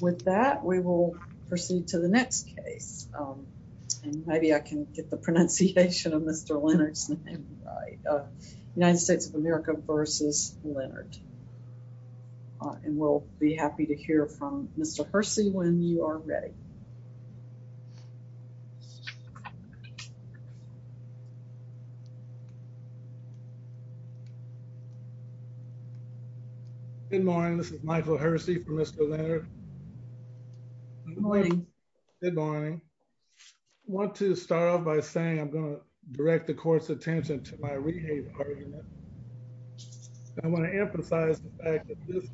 With that, we will proceed to the next case. Maybe I can get the pronunciation of Mr. Leonard's name right. United States of America v. Leonard. And we'll be happy to hear from Mr. Hersey when you are ready. Good morning. This is Michael Hersey from Mr. Leonard. Good morning. Want to start off by saying I'm going to direct the court's attention to my rehab. I want to emphasize the fact that this is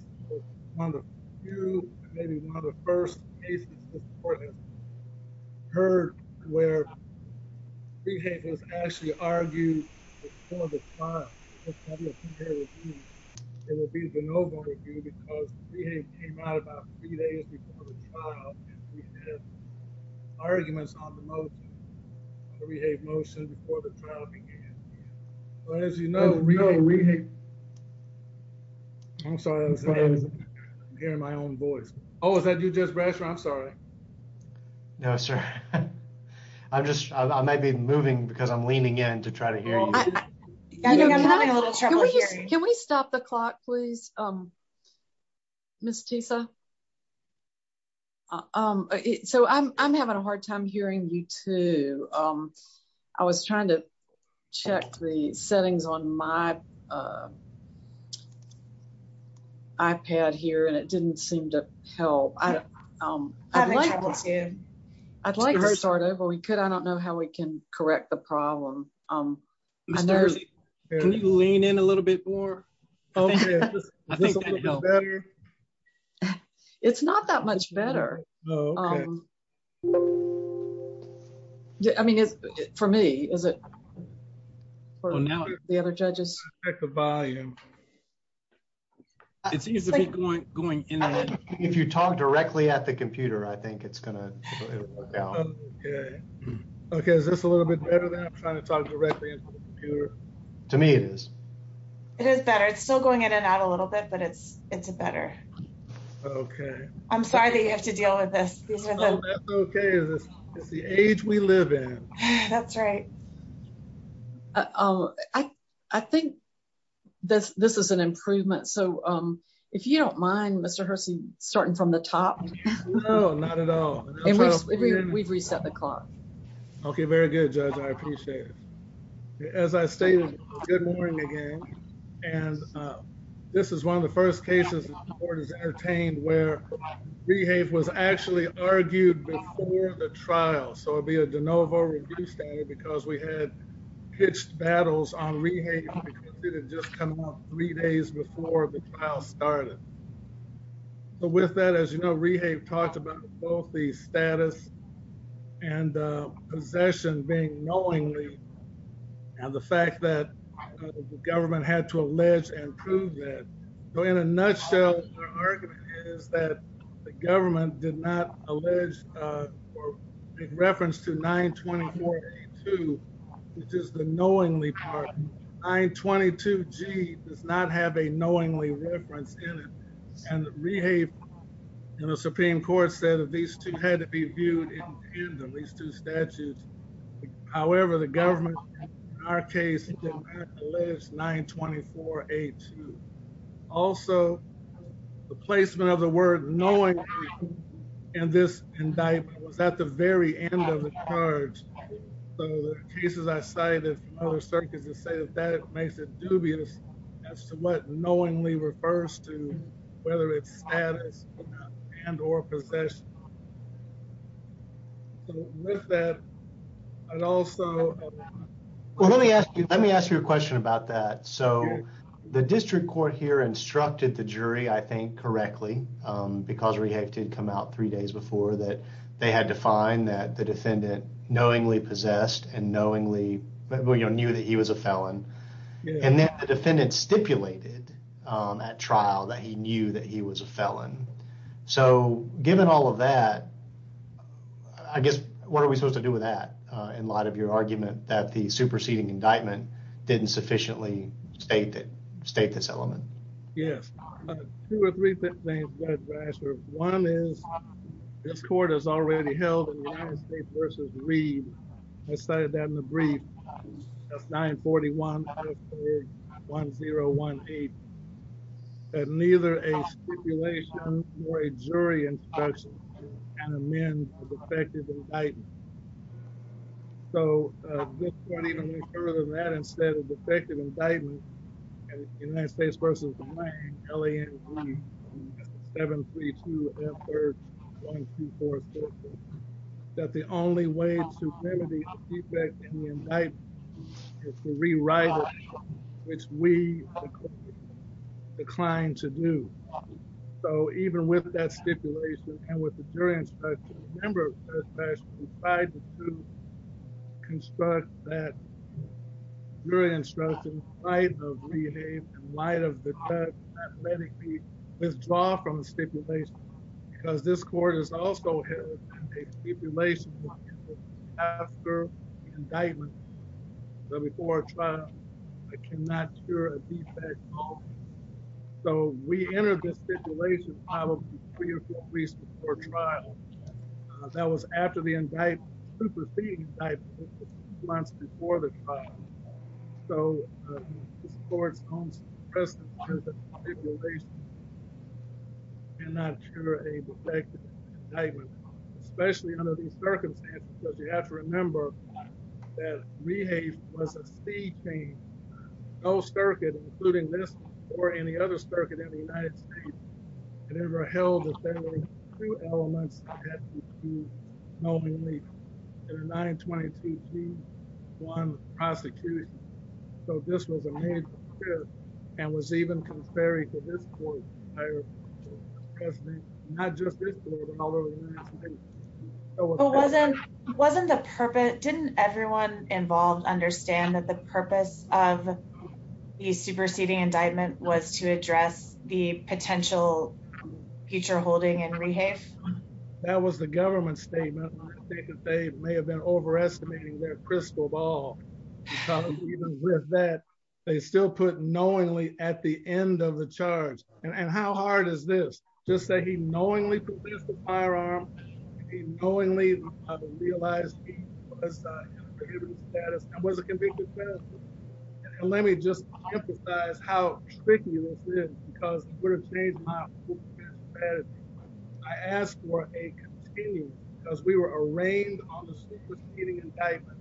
one of the few, maybe one of the first cases this court has heard where rehab has actually argued before the trial. It will be the noble review because rehab came out about three days before the trial and we had arguments on the motion. We have motion before the trial began. As you know, we know we hate. I'm sorry. Hear my own voice. Oh, is that you just brush. I'm sorry. No, sir. I'm just, I might be moving because I'm leaning in to try to hear. Can we stop the clock, please. Miss Tisa. So I'm having a hard time hearing you too. I was trying to check the settings on my iPad here and it didn't seem to help. I'd like to start over. We could I don't know how we can correct the problem. Can you lean in a little bit more. It's not that much better. I mean, for me, is it for now, the other judges at the volume. It seems to be going, going in and if you talk directly at the computer I think it's going to. OK, is this a little bit better than I'm trying to talk directly to me it is. It is better. It's still going in and out a little bit, but it's it's a better. OK, I'm sorry that you have to deal with this. OK, is this the age we live in? That's right. I think this this is an improvement. So if you don't mind, Mr. Hersey, starting from the top. No, not at all. We've reset the clock. OK, very good, Judge. I appreciate it. As I stated, good morning again. And this is one of the first cases the court is entertained where we have was actually argued before the trial. So it'd be a de novo because we had pitched battles on rehab. Just three days before the trial started. But with that, as you know, we have talked about both the status and possession being knowingly. And the fact that the government had to allege and prove that in a nutshell, is that the government did not allege or make reference to 924, which is the knowingly part. 922 G does not have a knowingly reference in it. And rehab in the Supreme Court said that these two had to be viewed in these two statutes. However, the government, in our case, alleged 924 H. Also, the placement of the word knowingly in this indictment was at the very end of the charge. The cases I cited from other circuits say that that makes it dubious as to what knowingly refers to, whether it's status and or possession. With that, I'd also. Let me ask you, let me ask you a question about that. So the district court here instructed the jury, I think correctly, because we have to come out three days before that they had to find that the defendant knowingly possessed and knowingly knew that he was a felon. And then the defendant stipulated at trial that he knew that he was a felon. So given all of that. I guess what are we supposed to do with that? And a lot of your argument that the superseding indictment didn't sufficiently state that state this element. Yes. Two or three things. One is this court has already held versus read. I started that in the brief. That's nine forty one one zero one eight. And neither a stipulation or a jury instruction can amend the effective indictment. So even further than that, instead of effective indictment, United States versus L.A. and seven, three, two, one, two, four. The only way to remedy the indictment is to rewrite it, which we declined to do. So even with that stipulation and with the jury instruction, remember, we tried to construct that jury instruction in light of the light of the let it be. Let's draw from the stipulation, because this court is also a stipulation after indictment. But before trial, I cannot hear a defect. So we entered this stipulation, probably three or four weeks before trial. That was after the indictment superseding months before the trial. So this court's own presidency stipulation cannot cure a defective indictment, especially under these circumstances, because you have to remember that rehave was a speed change. No circuit, including this or any other circuit in the United States, had ever held that there were two elements that had to be used knowingly in a 922-3-1 prosecution. So this was a major shift and was even contrary to this court's entire presidency, not just this court, although the United States. It wasn't the purpose. Didn't everyone involved understand that the purpose of the superseding indictment was to address the potential future holding and rehave? That was the government statement. I think that they may have been overestimating their crystal ball, because even with that, they still put knowingly at the end of the charge. And how hard is this? Just that he knowingly produced the firearm, he knowingly realized he was in a prohibited status and was a convicted felon. And let me just emphasize how tricky this is, because it would have changed my whole strategy. I asked for a continuum, because we were arraigned on the superseding indictment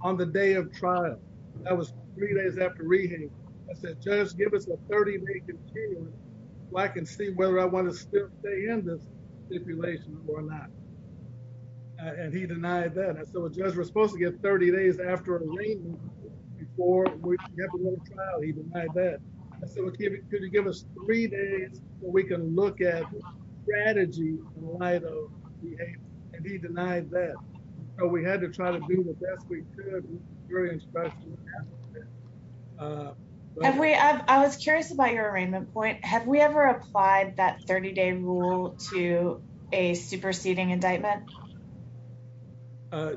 on the day of trial. That was three days after rehave. I said, Judge, give us a 30-day continuum so I can see whether I want to stay in this stipulation or not. And he denied that. I said, well, Judge, we're supposed to get 30 days after arraignment before we have to go to trial. He denied that. I said, well, could you give us three days so we can look at the strategy in light of rehave? And he denied that. So we had to try to do the best we could. We experienced pressure. I was curious about your arraignment point. Have we ever applied that 30-day rule to a superseding indictment?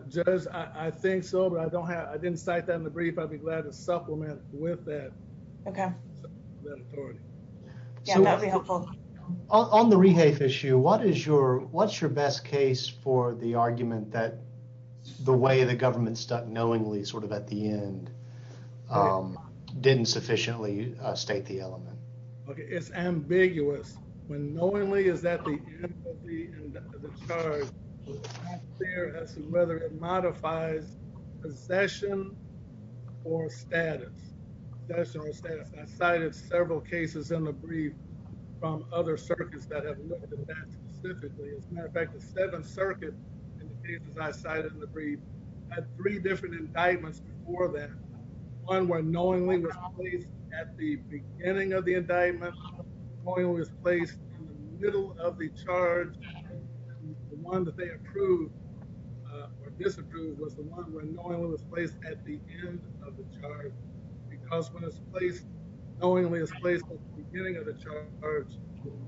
Judge, I think so, but I didn't cite that in the brief. I'd be glad to supplement with that. Okay. Yeah, that would be helpful. On the rehave issue, what's your best case for the argument that the way the government stuck knowingly sort of at the end didn't sufficiently state the element? It's ambiguous. When knowingly is at the end of the charge, it's not clear as to whether it modifies possession or status. Possession or status. I cited several cases in the brief from other circuits that have looked at that specifically. As a matter of fact, the Seventh Circuit, in the cases I cited in the brief, had three different indictments before that. One where knowingly was placed at the beginning of the indictment. Knowingly was placed in the middle of the charge. And the one that they approved or disapproved was the one where knowingly was placed at the end of the charge. Because when it's placed, knowingly is placed at the beginning of the charge,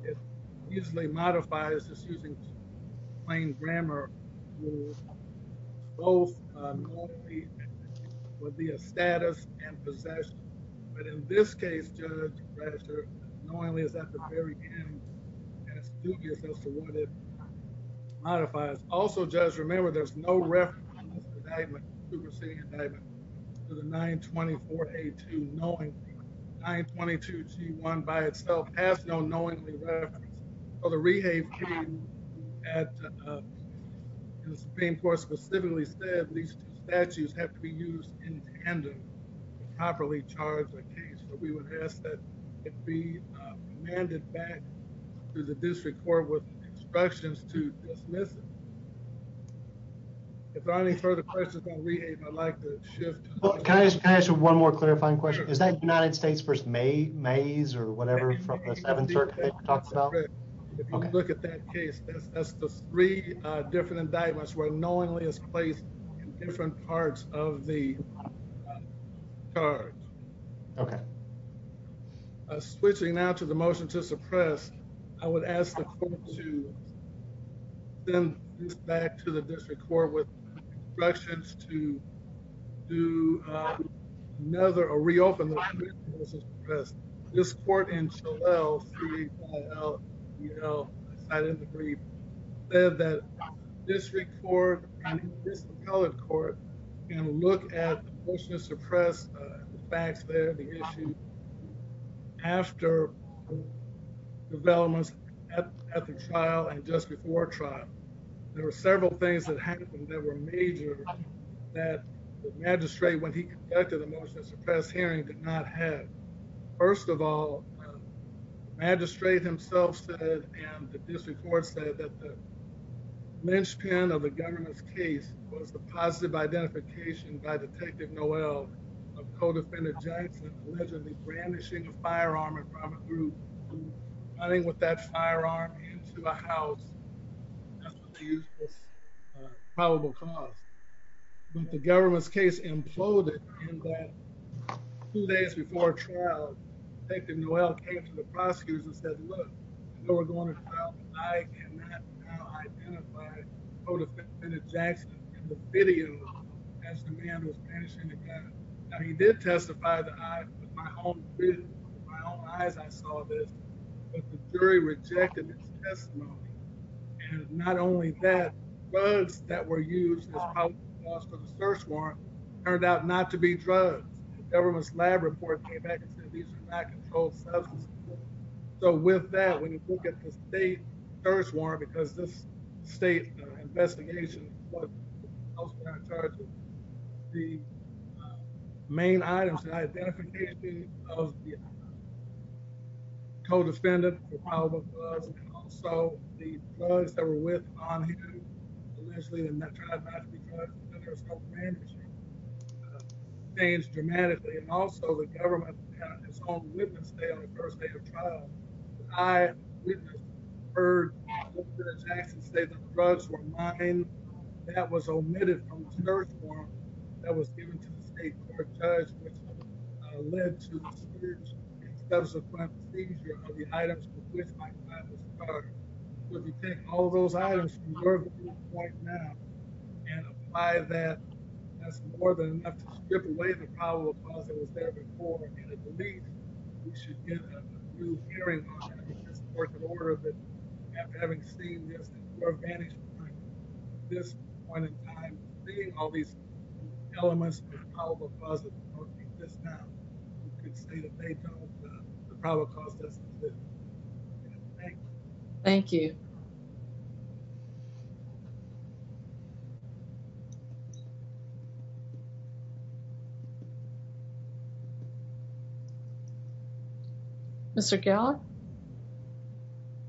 it usually modifies, just using plain grammar rules, both knowingly would be a status and possession. But in this case, Judge Bradshaw, knowingly is at the very end, and it's dubious as to what it modifies. Also, Judge, remember there's no reference in this indictment to the 924A2 knowingly. 922G1 by itself has no knowingly reference. So the Rehave team at the Supreme Court specifically said these two statutes have to be used in tandem to properly charge the case. So we would ask that it be remanded back to the district court with instructions to dismiss it. If there are any further questions on Rehave, I'd like to shift to the next question. Can I ask you one more clarifying question? Is that United States v. Mays or whatever from the Seventh Circuit that you talked about? If you look at that case, that's the three different indictments where knowingly is placed in different parts of the charge. Okay. Switching now to the motion to suppress, I would ask the court to send this back to the district court with instructions to reopen the motion to suppress. This court in Chellel, C-H-E-L-L-E-L, I cited in the brief, said that district court and this appellate court can look at the motion to suppress, the facts there, the issue, after developments at the trial and just before trial. There were several things that happened that were major that the magistrate, when he conducted the motion to suppress hearing, did not have. First of all, the magistrate himself said, and the district court said, that the linchpin of the government's case was the positive identification by Detective Noel of co-defendant Johnson allegedly brandishing a firearm and running with that firearm into a house. That's what they used as probable cause. But the government's case imploded in that two days before trial, Detective Noel came to the prosecutors and said, look, we're going to trial tonight and not now identify co-defendant Johnson in the video as the man was brandishing the gun. Now he did testify that I, with my own eyes, I saw this, but the jury rejected his testimony. And not only that, drugs that were used as probable cause for the search warrant turned out not to be drugs. The government's lab report came back and said these are not controlled substances. So with that, when you look at the state search warrant, because this state investigation, the main items, the identification of the co-defendant, the probable cause, and also the drugs that were with him, allegedly, and that tried not to be drugs, because there was no brandishing, changed dramatically. And also the government had its own witness there on the first day of trial. I, as a witness, heard the judge actually say that the drugs were mine. That was omitted from the search warrant that was given to the state court judge, which led to a serious and subsequent seizure of the items for which my client was charged. So if we take all those items from where we are at this point now and apply that, that's more than enough to strip away the probable cause that was there before. And I believe we should get a new hearing on that. Having seen this, at this point in time, seeing all these elements of the probable cause, we could say that they don't, the probable cause doesn't exist. Thank you. Thank you. Thank you. Mr.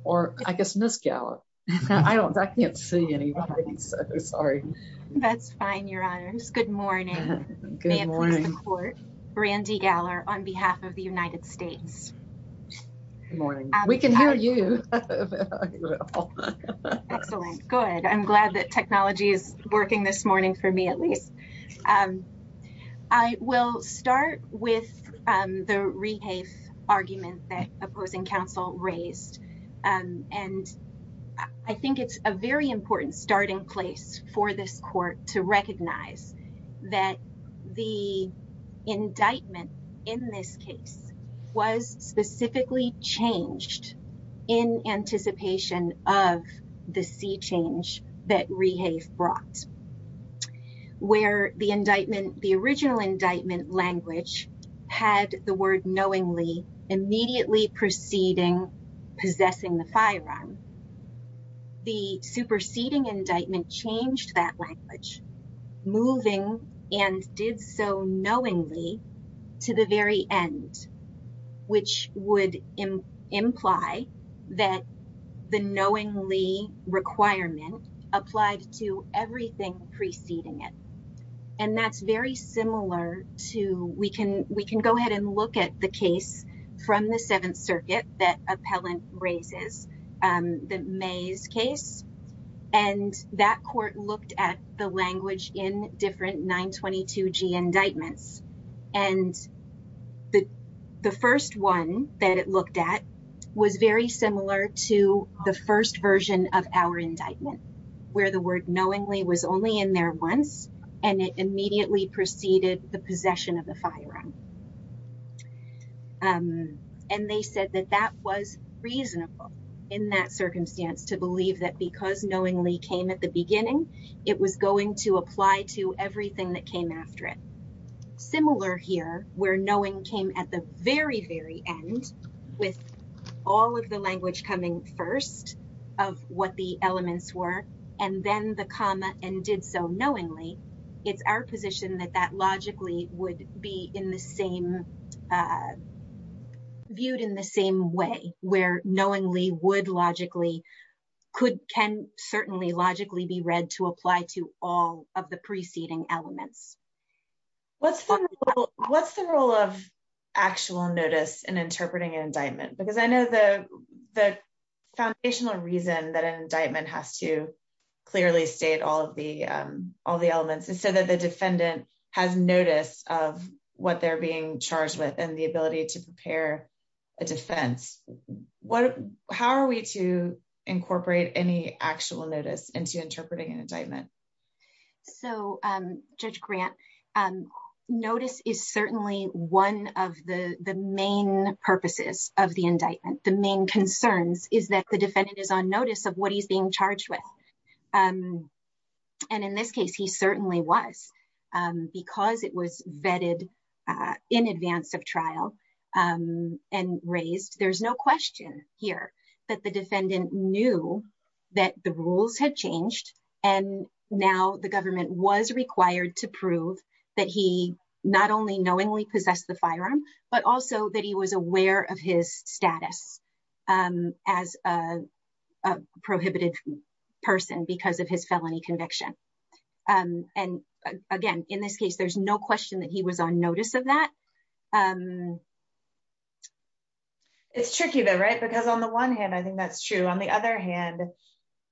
Or, I guess, Miss Gala. I don't I can't see any. Sorry. That's fine. Your Honors. Good morning. Good morning. Randy galler on behalf of the United States. We can hear you. Excellent. Good. I'm glad that technology is working this morning for me, at least. I will start with the rehab argument that opposing counsel raised, and I think it's a very important starting place for this court to recognize that the indictment. In this case was specifically changed in anticipation of the sea change that rehab brought where the indictment, the original indictment language had the word knowingly immediately proceeding, possessing the firearm. The superseding indictment changed that language moving and did so knowingly to the very end, which would imply that the knowingly requirement applied to everything preceding it. And that's very similar to we can we can go ahead and look at the case from the seventh circuit that appellant raises the maze case. And that court looked at the language in different 922 G indictments. And the first one that it looked at was very similar to the first version of our indictment, where the word knowingly was only in there once, and it immediately preceded the possession of the firearm. And they said that that was reasonable in that circumstance to believe that because knowingly came at the beginning, it was going to apply to everything that came after it. Similar here, where knowing came at the very, very end with all of the language coming first of what the elements were, and then the comma and did so knowingly, it's our position that that logically would be in the same viewed in the same way, where knowingly would logically could can certainly logically be read to apply to all of the preceding elements. What's the role of actual notice and interpreting an indictment because I know the, the foundational reason that an indictment has to clearly state all of the, all the elements and so that the defendant has notice of what they're being charged with and the ability to prepare a defense. What, how are we to incorporate any actual notice into interpreting an indictment. So, Judge grant notice is certainly one of the, the main purposes of the indictment, the main concerns is that the defendant is on notice of what he's being charged with. And in this case he certainly was because it was vetted in advance of trial and raised there's no question here that the defendant knew that the rules had changed. And now the government was required to prove that he not only knowingly possess the firearm, but also that he was aware of his status as a prohibited person because of his felony conviction. And, and, again, in this case there's no question that he was on notice of that. It's tricky though right because on the one hand I think that's true. On the other hand,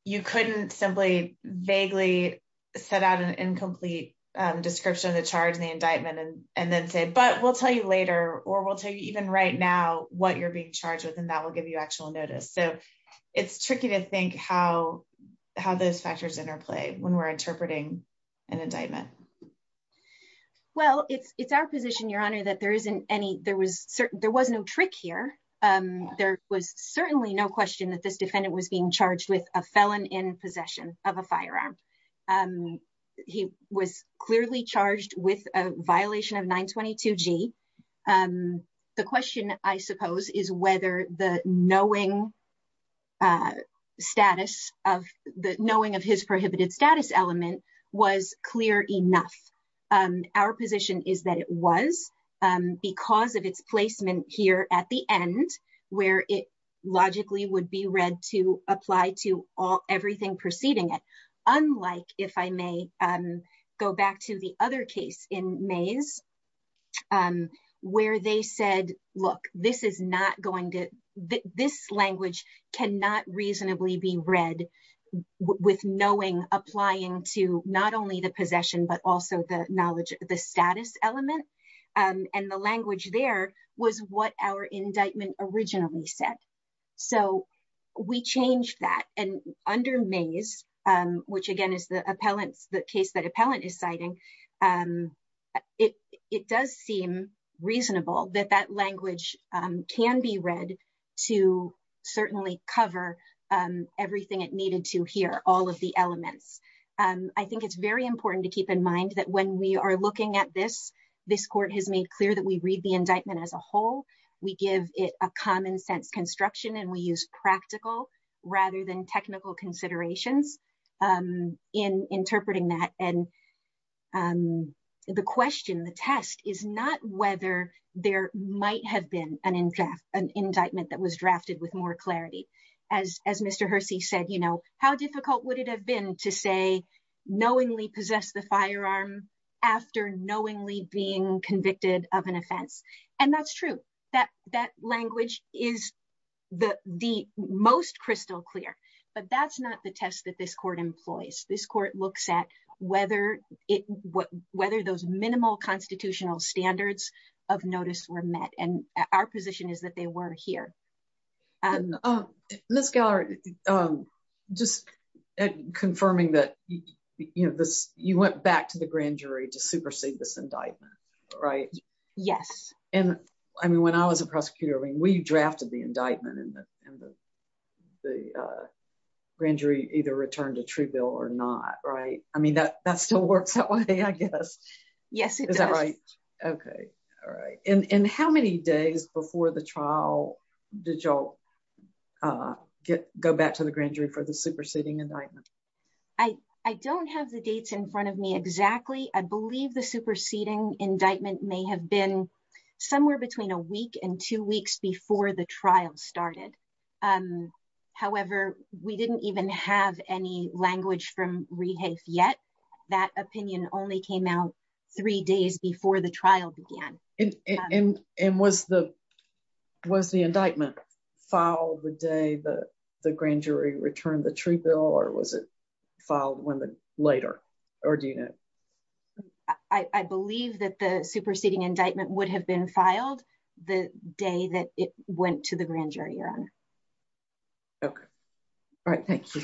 you couldn't simply vaguely set out an incomplete description of the charge and the indictment and, and then say but we'll tell you later, or we'll tell you even right now, what you're being charged with and that will give you actual notice so it's tricky to think how, how those factors interplay when we're interpreting an indictment. Well, it's, it's our position Your Honor that there isn't any there was certain there was no trick here. There was certainly no question that this defendant was being charged with a felon in possession of a firearm. He was clearly charged with a violation of 922 G. The question, I suppose, is whether the knowing status of the knowing of his prohibited status element was clear enough. Our position is that it was because of its placement here at the end, where it logically would be read to apply to all everything preceding it. Unlike if I may go back to the other case in maze, where they said, Look, this is not going to this language cannot reasonably be read with knowing applying to not only the possession but also the knowledge of the status element, and the language there was what our indictment originally said. So, we changed that and under maze, which again is the appellants that case that appellant is citing it, it does seem reasonable that that language can be read to certainly cover everything it needed to hear all of the elements. I think it's very important to keep in mind that when we are looking at this, this court has made clear that we read the indictment as a whole, we give it a common sense construction and we use practical rather than technical considerations in interpreting that and the question and the test is not whether there might have been an in draft an indictment that was drafted with more clarity, as, as Mr. Hersey said you know how difficult would it have been to say, knowingly possess the firearm after knowingly being convicted of an offense. And that's true that that language is the, the most crystal clear, but that's not the test that this court employs this court looks at whether it what whether those minimal constitutional standards of notice were met and our position is that they were here. And this gallery. Just confirming that you know this, you went back to the grand jury to supersede this indictment. Right. Yes. And I mean when I was a prosecutor when we drafted the indictment and the grand jury either returned a true bill or not right i mean that that still works I guess. Yes. Okay. All right. And how many days before the trial. Did y'all get go back to the grand jury for the superseding and I, I don't have the dates in front of me exactly I believe the superseding indictment may have been somewhere between a week and two weeks before started. However, we didn't even have any language from rehab yet. That opinion only came out three days before the trial began, and was the was the indictment file the day the grand jury returned the true bill or was it filed when the later, or do you know, I believe that the superseding indictment would have been filed the day that it went to the grand jury or. Okay. All right, thank you.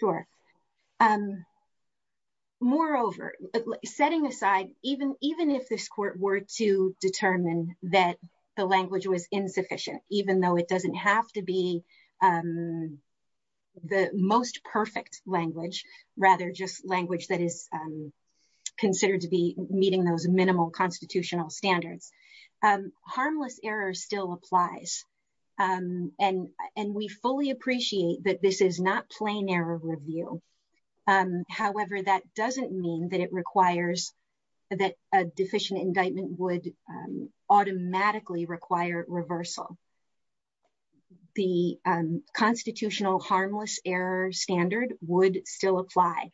Sure. Moreover, setting aside, even, even if this court were to determine that the language was insufficient, even though it doesn't have to be the most perfect language, rather just language that is considered to be meeting those minimal constitutional standards. Harmless error still applies. And, and we fully appreciate that this is not plain error review. However, that doesn't mean that it requires that a deficient indictment would automatically require reversal. The constitutional harmless error standard would still apply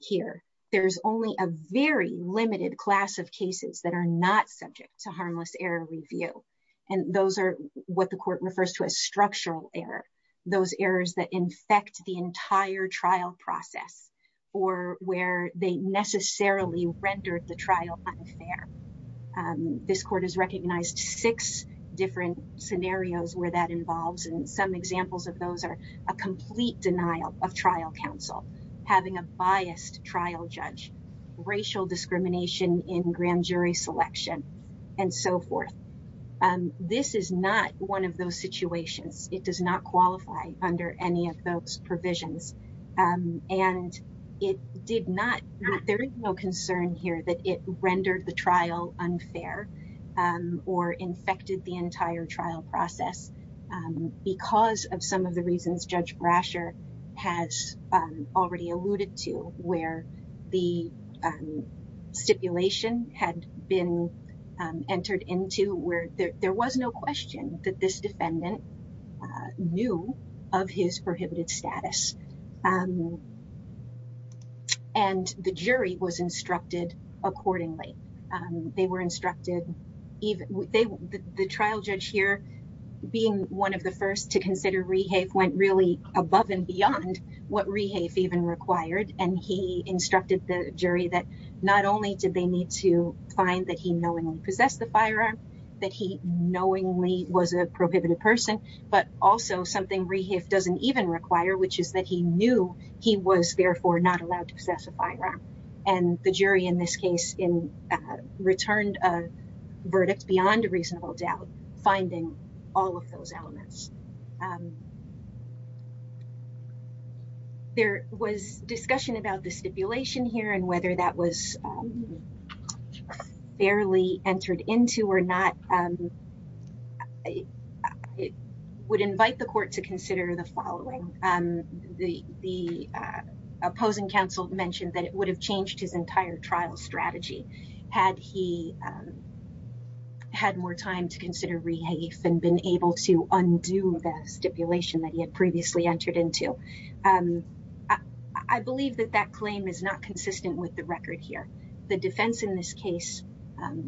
here. There's only a very limited class of cases that are not subject to harmless error review. And those are what the court refers to as structural error. Those errors that infect the entire trial process, or where they necessarily rendered the trial unfair. This court has recognized six different scenarios where that involves and some examples of those are a complete denial of trial counsel, having a biased trial judge racial discrimination in grand jury selection, and so forth. This is not one of those situations, it does not qualify under any of those provisions, and it did not. There is no concern here that it rendered the trial unfair or infected the entire trial process. Because of some of the reasons Judge Brasher has already alluded to where the stipulation had been entered into where there was no question that this defendant knew of his prohibited status. And the jury was instructed, accordingly, they were instructed, even the trial judge here, being one of the first to consider rehave went really above and beyond what rehave even required and he instructed the jury that not only did they need to find that he knowingly possess the firearm, that he knowingly was a prohibited person, but also something rehab doesn't even require which is that he knew of his prohibited status. He knew he was therefore not allowed to possess a firearm, and the jury in this case in returned a verdict beyond a reasonable doubt, finding all of those elements. There was discussion about the stipulation here and whether that was fairly entered into or not, I would invite the court to consider the following. The opposing counsel mentioned that it would have changed his entire trial strategy, had he had more time to consider rehave and been able to undo the stipulation that he had previously entered into. I believe that that claim is not consistent with the record here. The defense in this case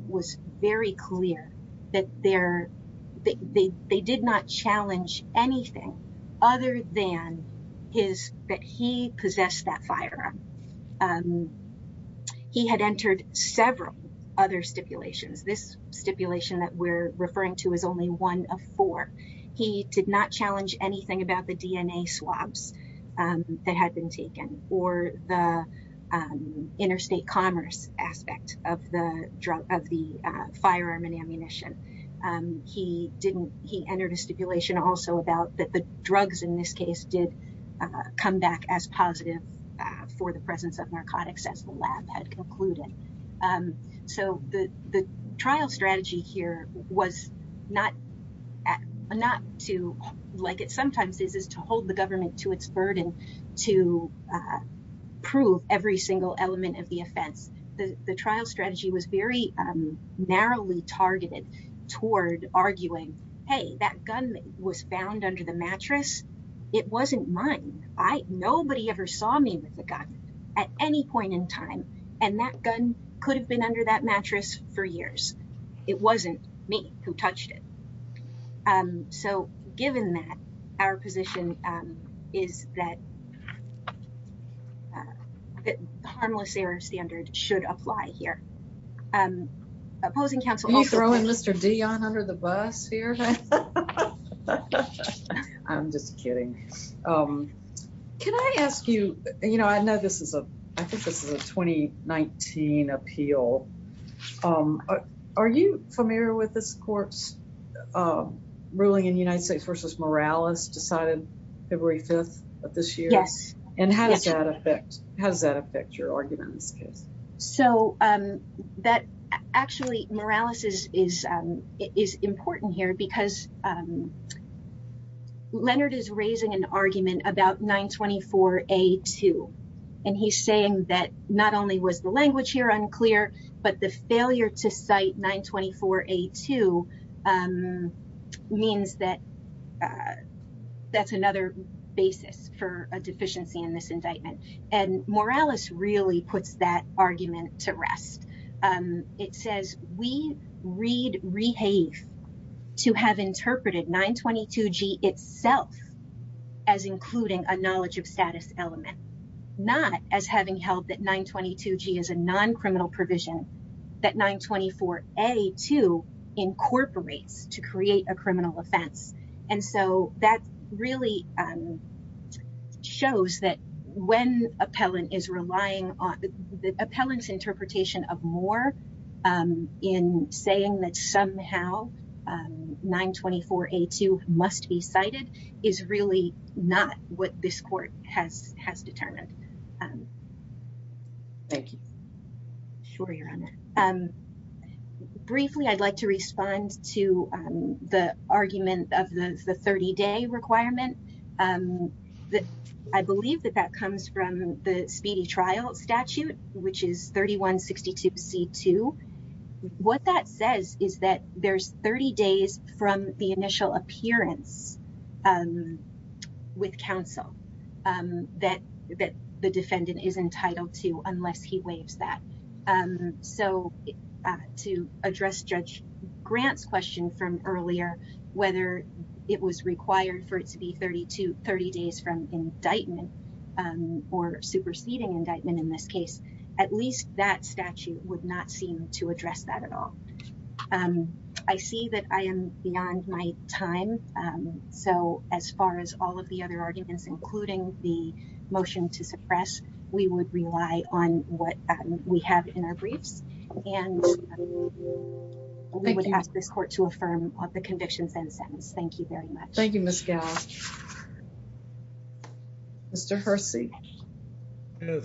was very clear that they did not challenge anything other than his that he possessed that firearm. He had entered several other stipulations. This stipulation that we're referring to is only one of four. He did not challenge anything about the DNA swabs that had been taken or the interstate commerce aspect of the firearm and ammunition. He entered a stipulation also about that the drugs in this case did come back as positive for the presence of narcotics as the lab had concluded. So the trial strategy here was not to, like it sometimes is, to hold the government to its burden to prove every single element of the offense. The trial strategy was very narrowly targeted toward arguing, hey, that gun was found under the mattress. It wasn't mine. Nobody ever saw me with the gun at any point in time. And that gun could have been under that mattress for years. It wasn't me who touched it. So given that, our position is that the harmless error standard should apply here. Are you throwing Mr. Dion under the bus here? I'm just kidding. Can I ask you, you know, I know this is a, I think this is a 2019 appeal. Are you familiar with this court's ruling in United States versus Morales decided February 5th of this year? Yes. And how does that affect, how does that affect your argument in this case? So that actually, Morales is important here because Leonard is raising an argument about 924A2. And he's saying that not only was the language here unclear, but the failure to cite 924A2 means that that's another basis for a deficiency in this indictment. And Morales really puts that argument to rest. It says we read, rehave to have interpreted 922G itself as including a knowledge of status element, not as having held that 922G is a non-criminal provision that 924A2 incorporates to create a criminal offense. And so that really shows that when appellant is relying on the appellant's interpretation of more in saying that somehow 924A2 must be cited is really not what this court has determined. Thank you. Sure, Your Honor. Briefly, I'd like to respond to the argument of the 30-day requirement. I believe that that comes from the speedy trial statute, which is 3162C2. What that says is that there's 30 days from the initial appearance with counsel that the defendant is entitled to unless he waives that. So to address Judge Grant's question from earlier, whether it was required for it to be 30 days from indictment or superseding indictment in this case, at least that statute would not seem to address that at all. I see that I am beyond my time. So as far as all of the other arguments, including the motion to suppress, we would rely on what we have in our briefs, and we would ask this court to affirm the convictions and sentence. Thank you very much. Thank you, Ms. Gall. Mr. Hersey. Yes,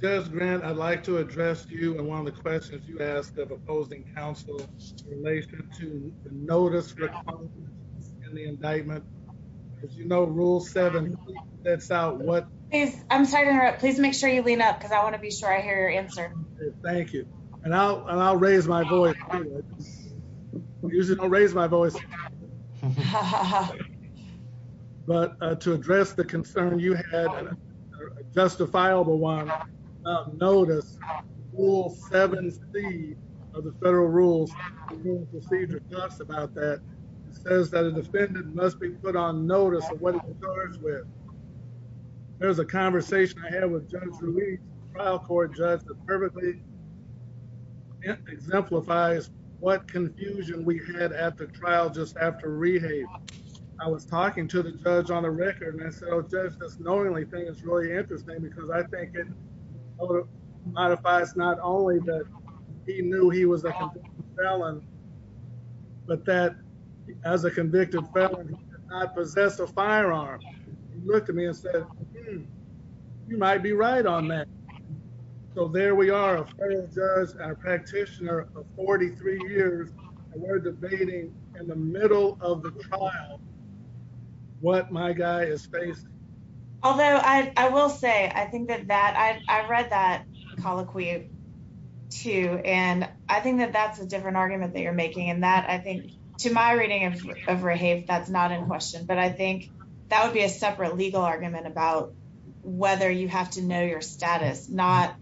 Judge Grant, I'd like to address you on one of the questions you asked of opposing counsel in relation to the notice for the indictment. As you know, Rule 7 sets out what... I'm sorry to interrupt. Please make sure you lean up because I want to be sure I hear your answer. Thank you. And I'll raise my voice. I usually don't raise my voice. But to address the concern you had, a justifiable one, notice, Rule 7c of the Federal Rules of Procedure talks about that. It says that a defendant must be put on notice of what he's charged with. There was a conversation I had with Judge Ruiz, a trial court judge, that perfectly exemplifies what confusion we had at the trial just after rehab. I was talking to the judge on the record, and I said, oh, Judge, this knowingly thing is really interesting because I think it modifies not only that he knew he was a convicted felon, but that as a convicted felon, he did not possess a firearm. He looked at me and said, hmm, you might be right on that. So there we are, a federal judge and a practitioner of 43 years, and we're debating in the middle of the trial what my guy is facing. Although I will say, I think that that, I read that colloquy too, and I think that that's a different argument that you're making, and that, I think, to my reading of rehab, that's not in question. But I think that would be a separate legal argument about whether you have to know your status, not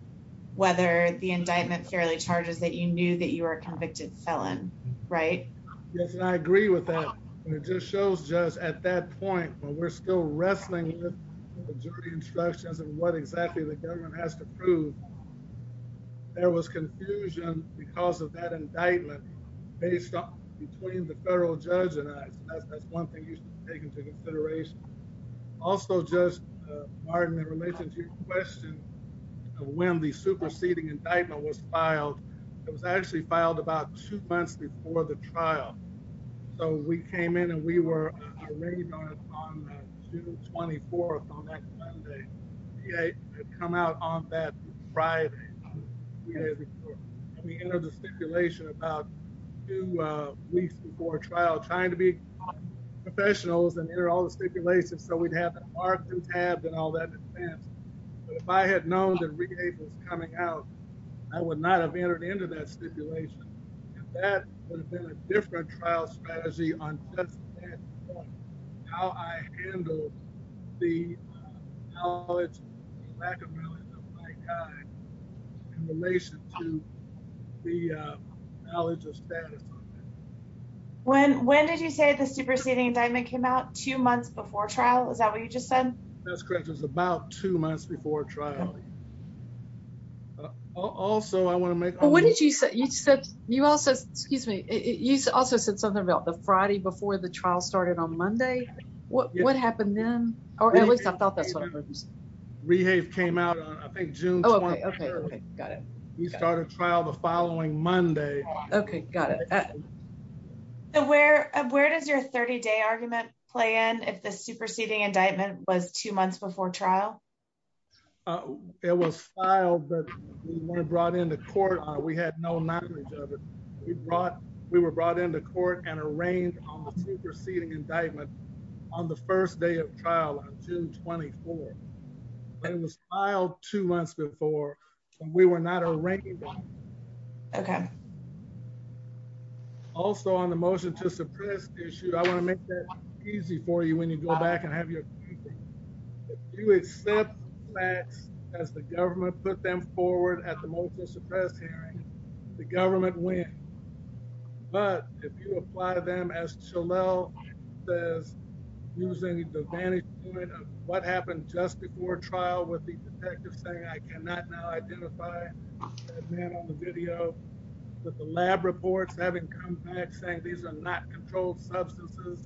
whether the indictment fairly charges that you knew that you were a convicted felon, right? Yes, and I agree with that, and it just shows, Judge, at that point, while we're still wrestling with jury instructions and what exactly the government has to prove, there was confusion because of that indictment based between the federal judge and I. So that's one thing you should take into consideration. Also, Judge Martin, in relation to your question of when the superseding indictment was filed, it was actually filed about two months before the trial. So we came in and we were arraigned on June 24th, on that Sunday. Rehab had come out on that Friday. We entered the stipulation about two weeks before trial, trying to be professionals and enter all the stipulations so we'd have it marked and tabbed and all that in advance. But if I had known that rehab was coming out, I would not have entered into that stipulation. And that would have been a different trial strategy on how I handled the knowledge and lack of knowledge of my time in relation to the knowledge of status. When did you say the superseding indictment came out two months before trial? Is that what you just said? That's correct. It was about two months before trial. Also, I want to make... You also said something about the Friday before the trial started on Monday. What happened then? Or at least I thought that's what it was. Rehab came out on, I think, June 23rd. We started trial the following Monday. Okay, got it. Where does your 30-day argument play in if the superseding indictment was two months before trial? It was filed, but we weren't brought into court on it. We had no knowledge of it. We were brought into court and arranged on the superseding indictment on the first day of trial on June 24th. It was filed two months before, and we were not arranged on it. Okay. Also, on the motion to suppress issue, I want to make that easy for you when you go back and have your thinking. If you accept the facts as the government put them forward at the motion to suppress hearing, the government wins. But if you apply them as Shalell says, using the vantage point of what happened just before trial with the detective saying, I cannot now identify that man on the video, with the lab reports having come back saying these are not controlled substances,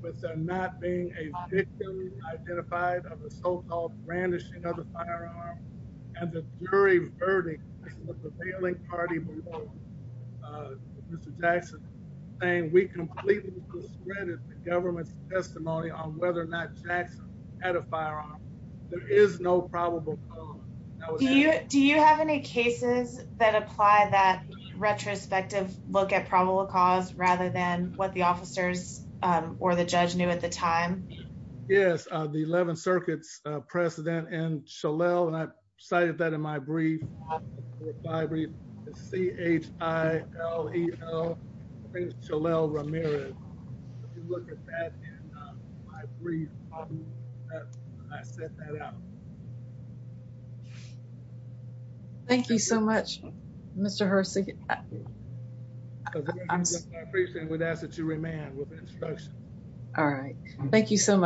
but they're not being officially identified of the so-called brandishing of the firearm, and the jury verdict of the prevailing party, Mr. Jackson, saying we completely discredited the government's testimony on whether or not Jackson had a firearm, there is no probable cause. Do you have any cases that apply that retrospective look at probable cause rather than what the officers or the judge knew at the time? Yes, the 11th Circuit's President N. Shalell, and I cited that in my brief. It's C-H-I-L-E-L, Prince Shalell Ramirez. If you look at that in my brief, I set that out. Thank you so much, Mr. Hersey. I appreciate it, and would ask that you remain with the instruction. All right. Thank you so much.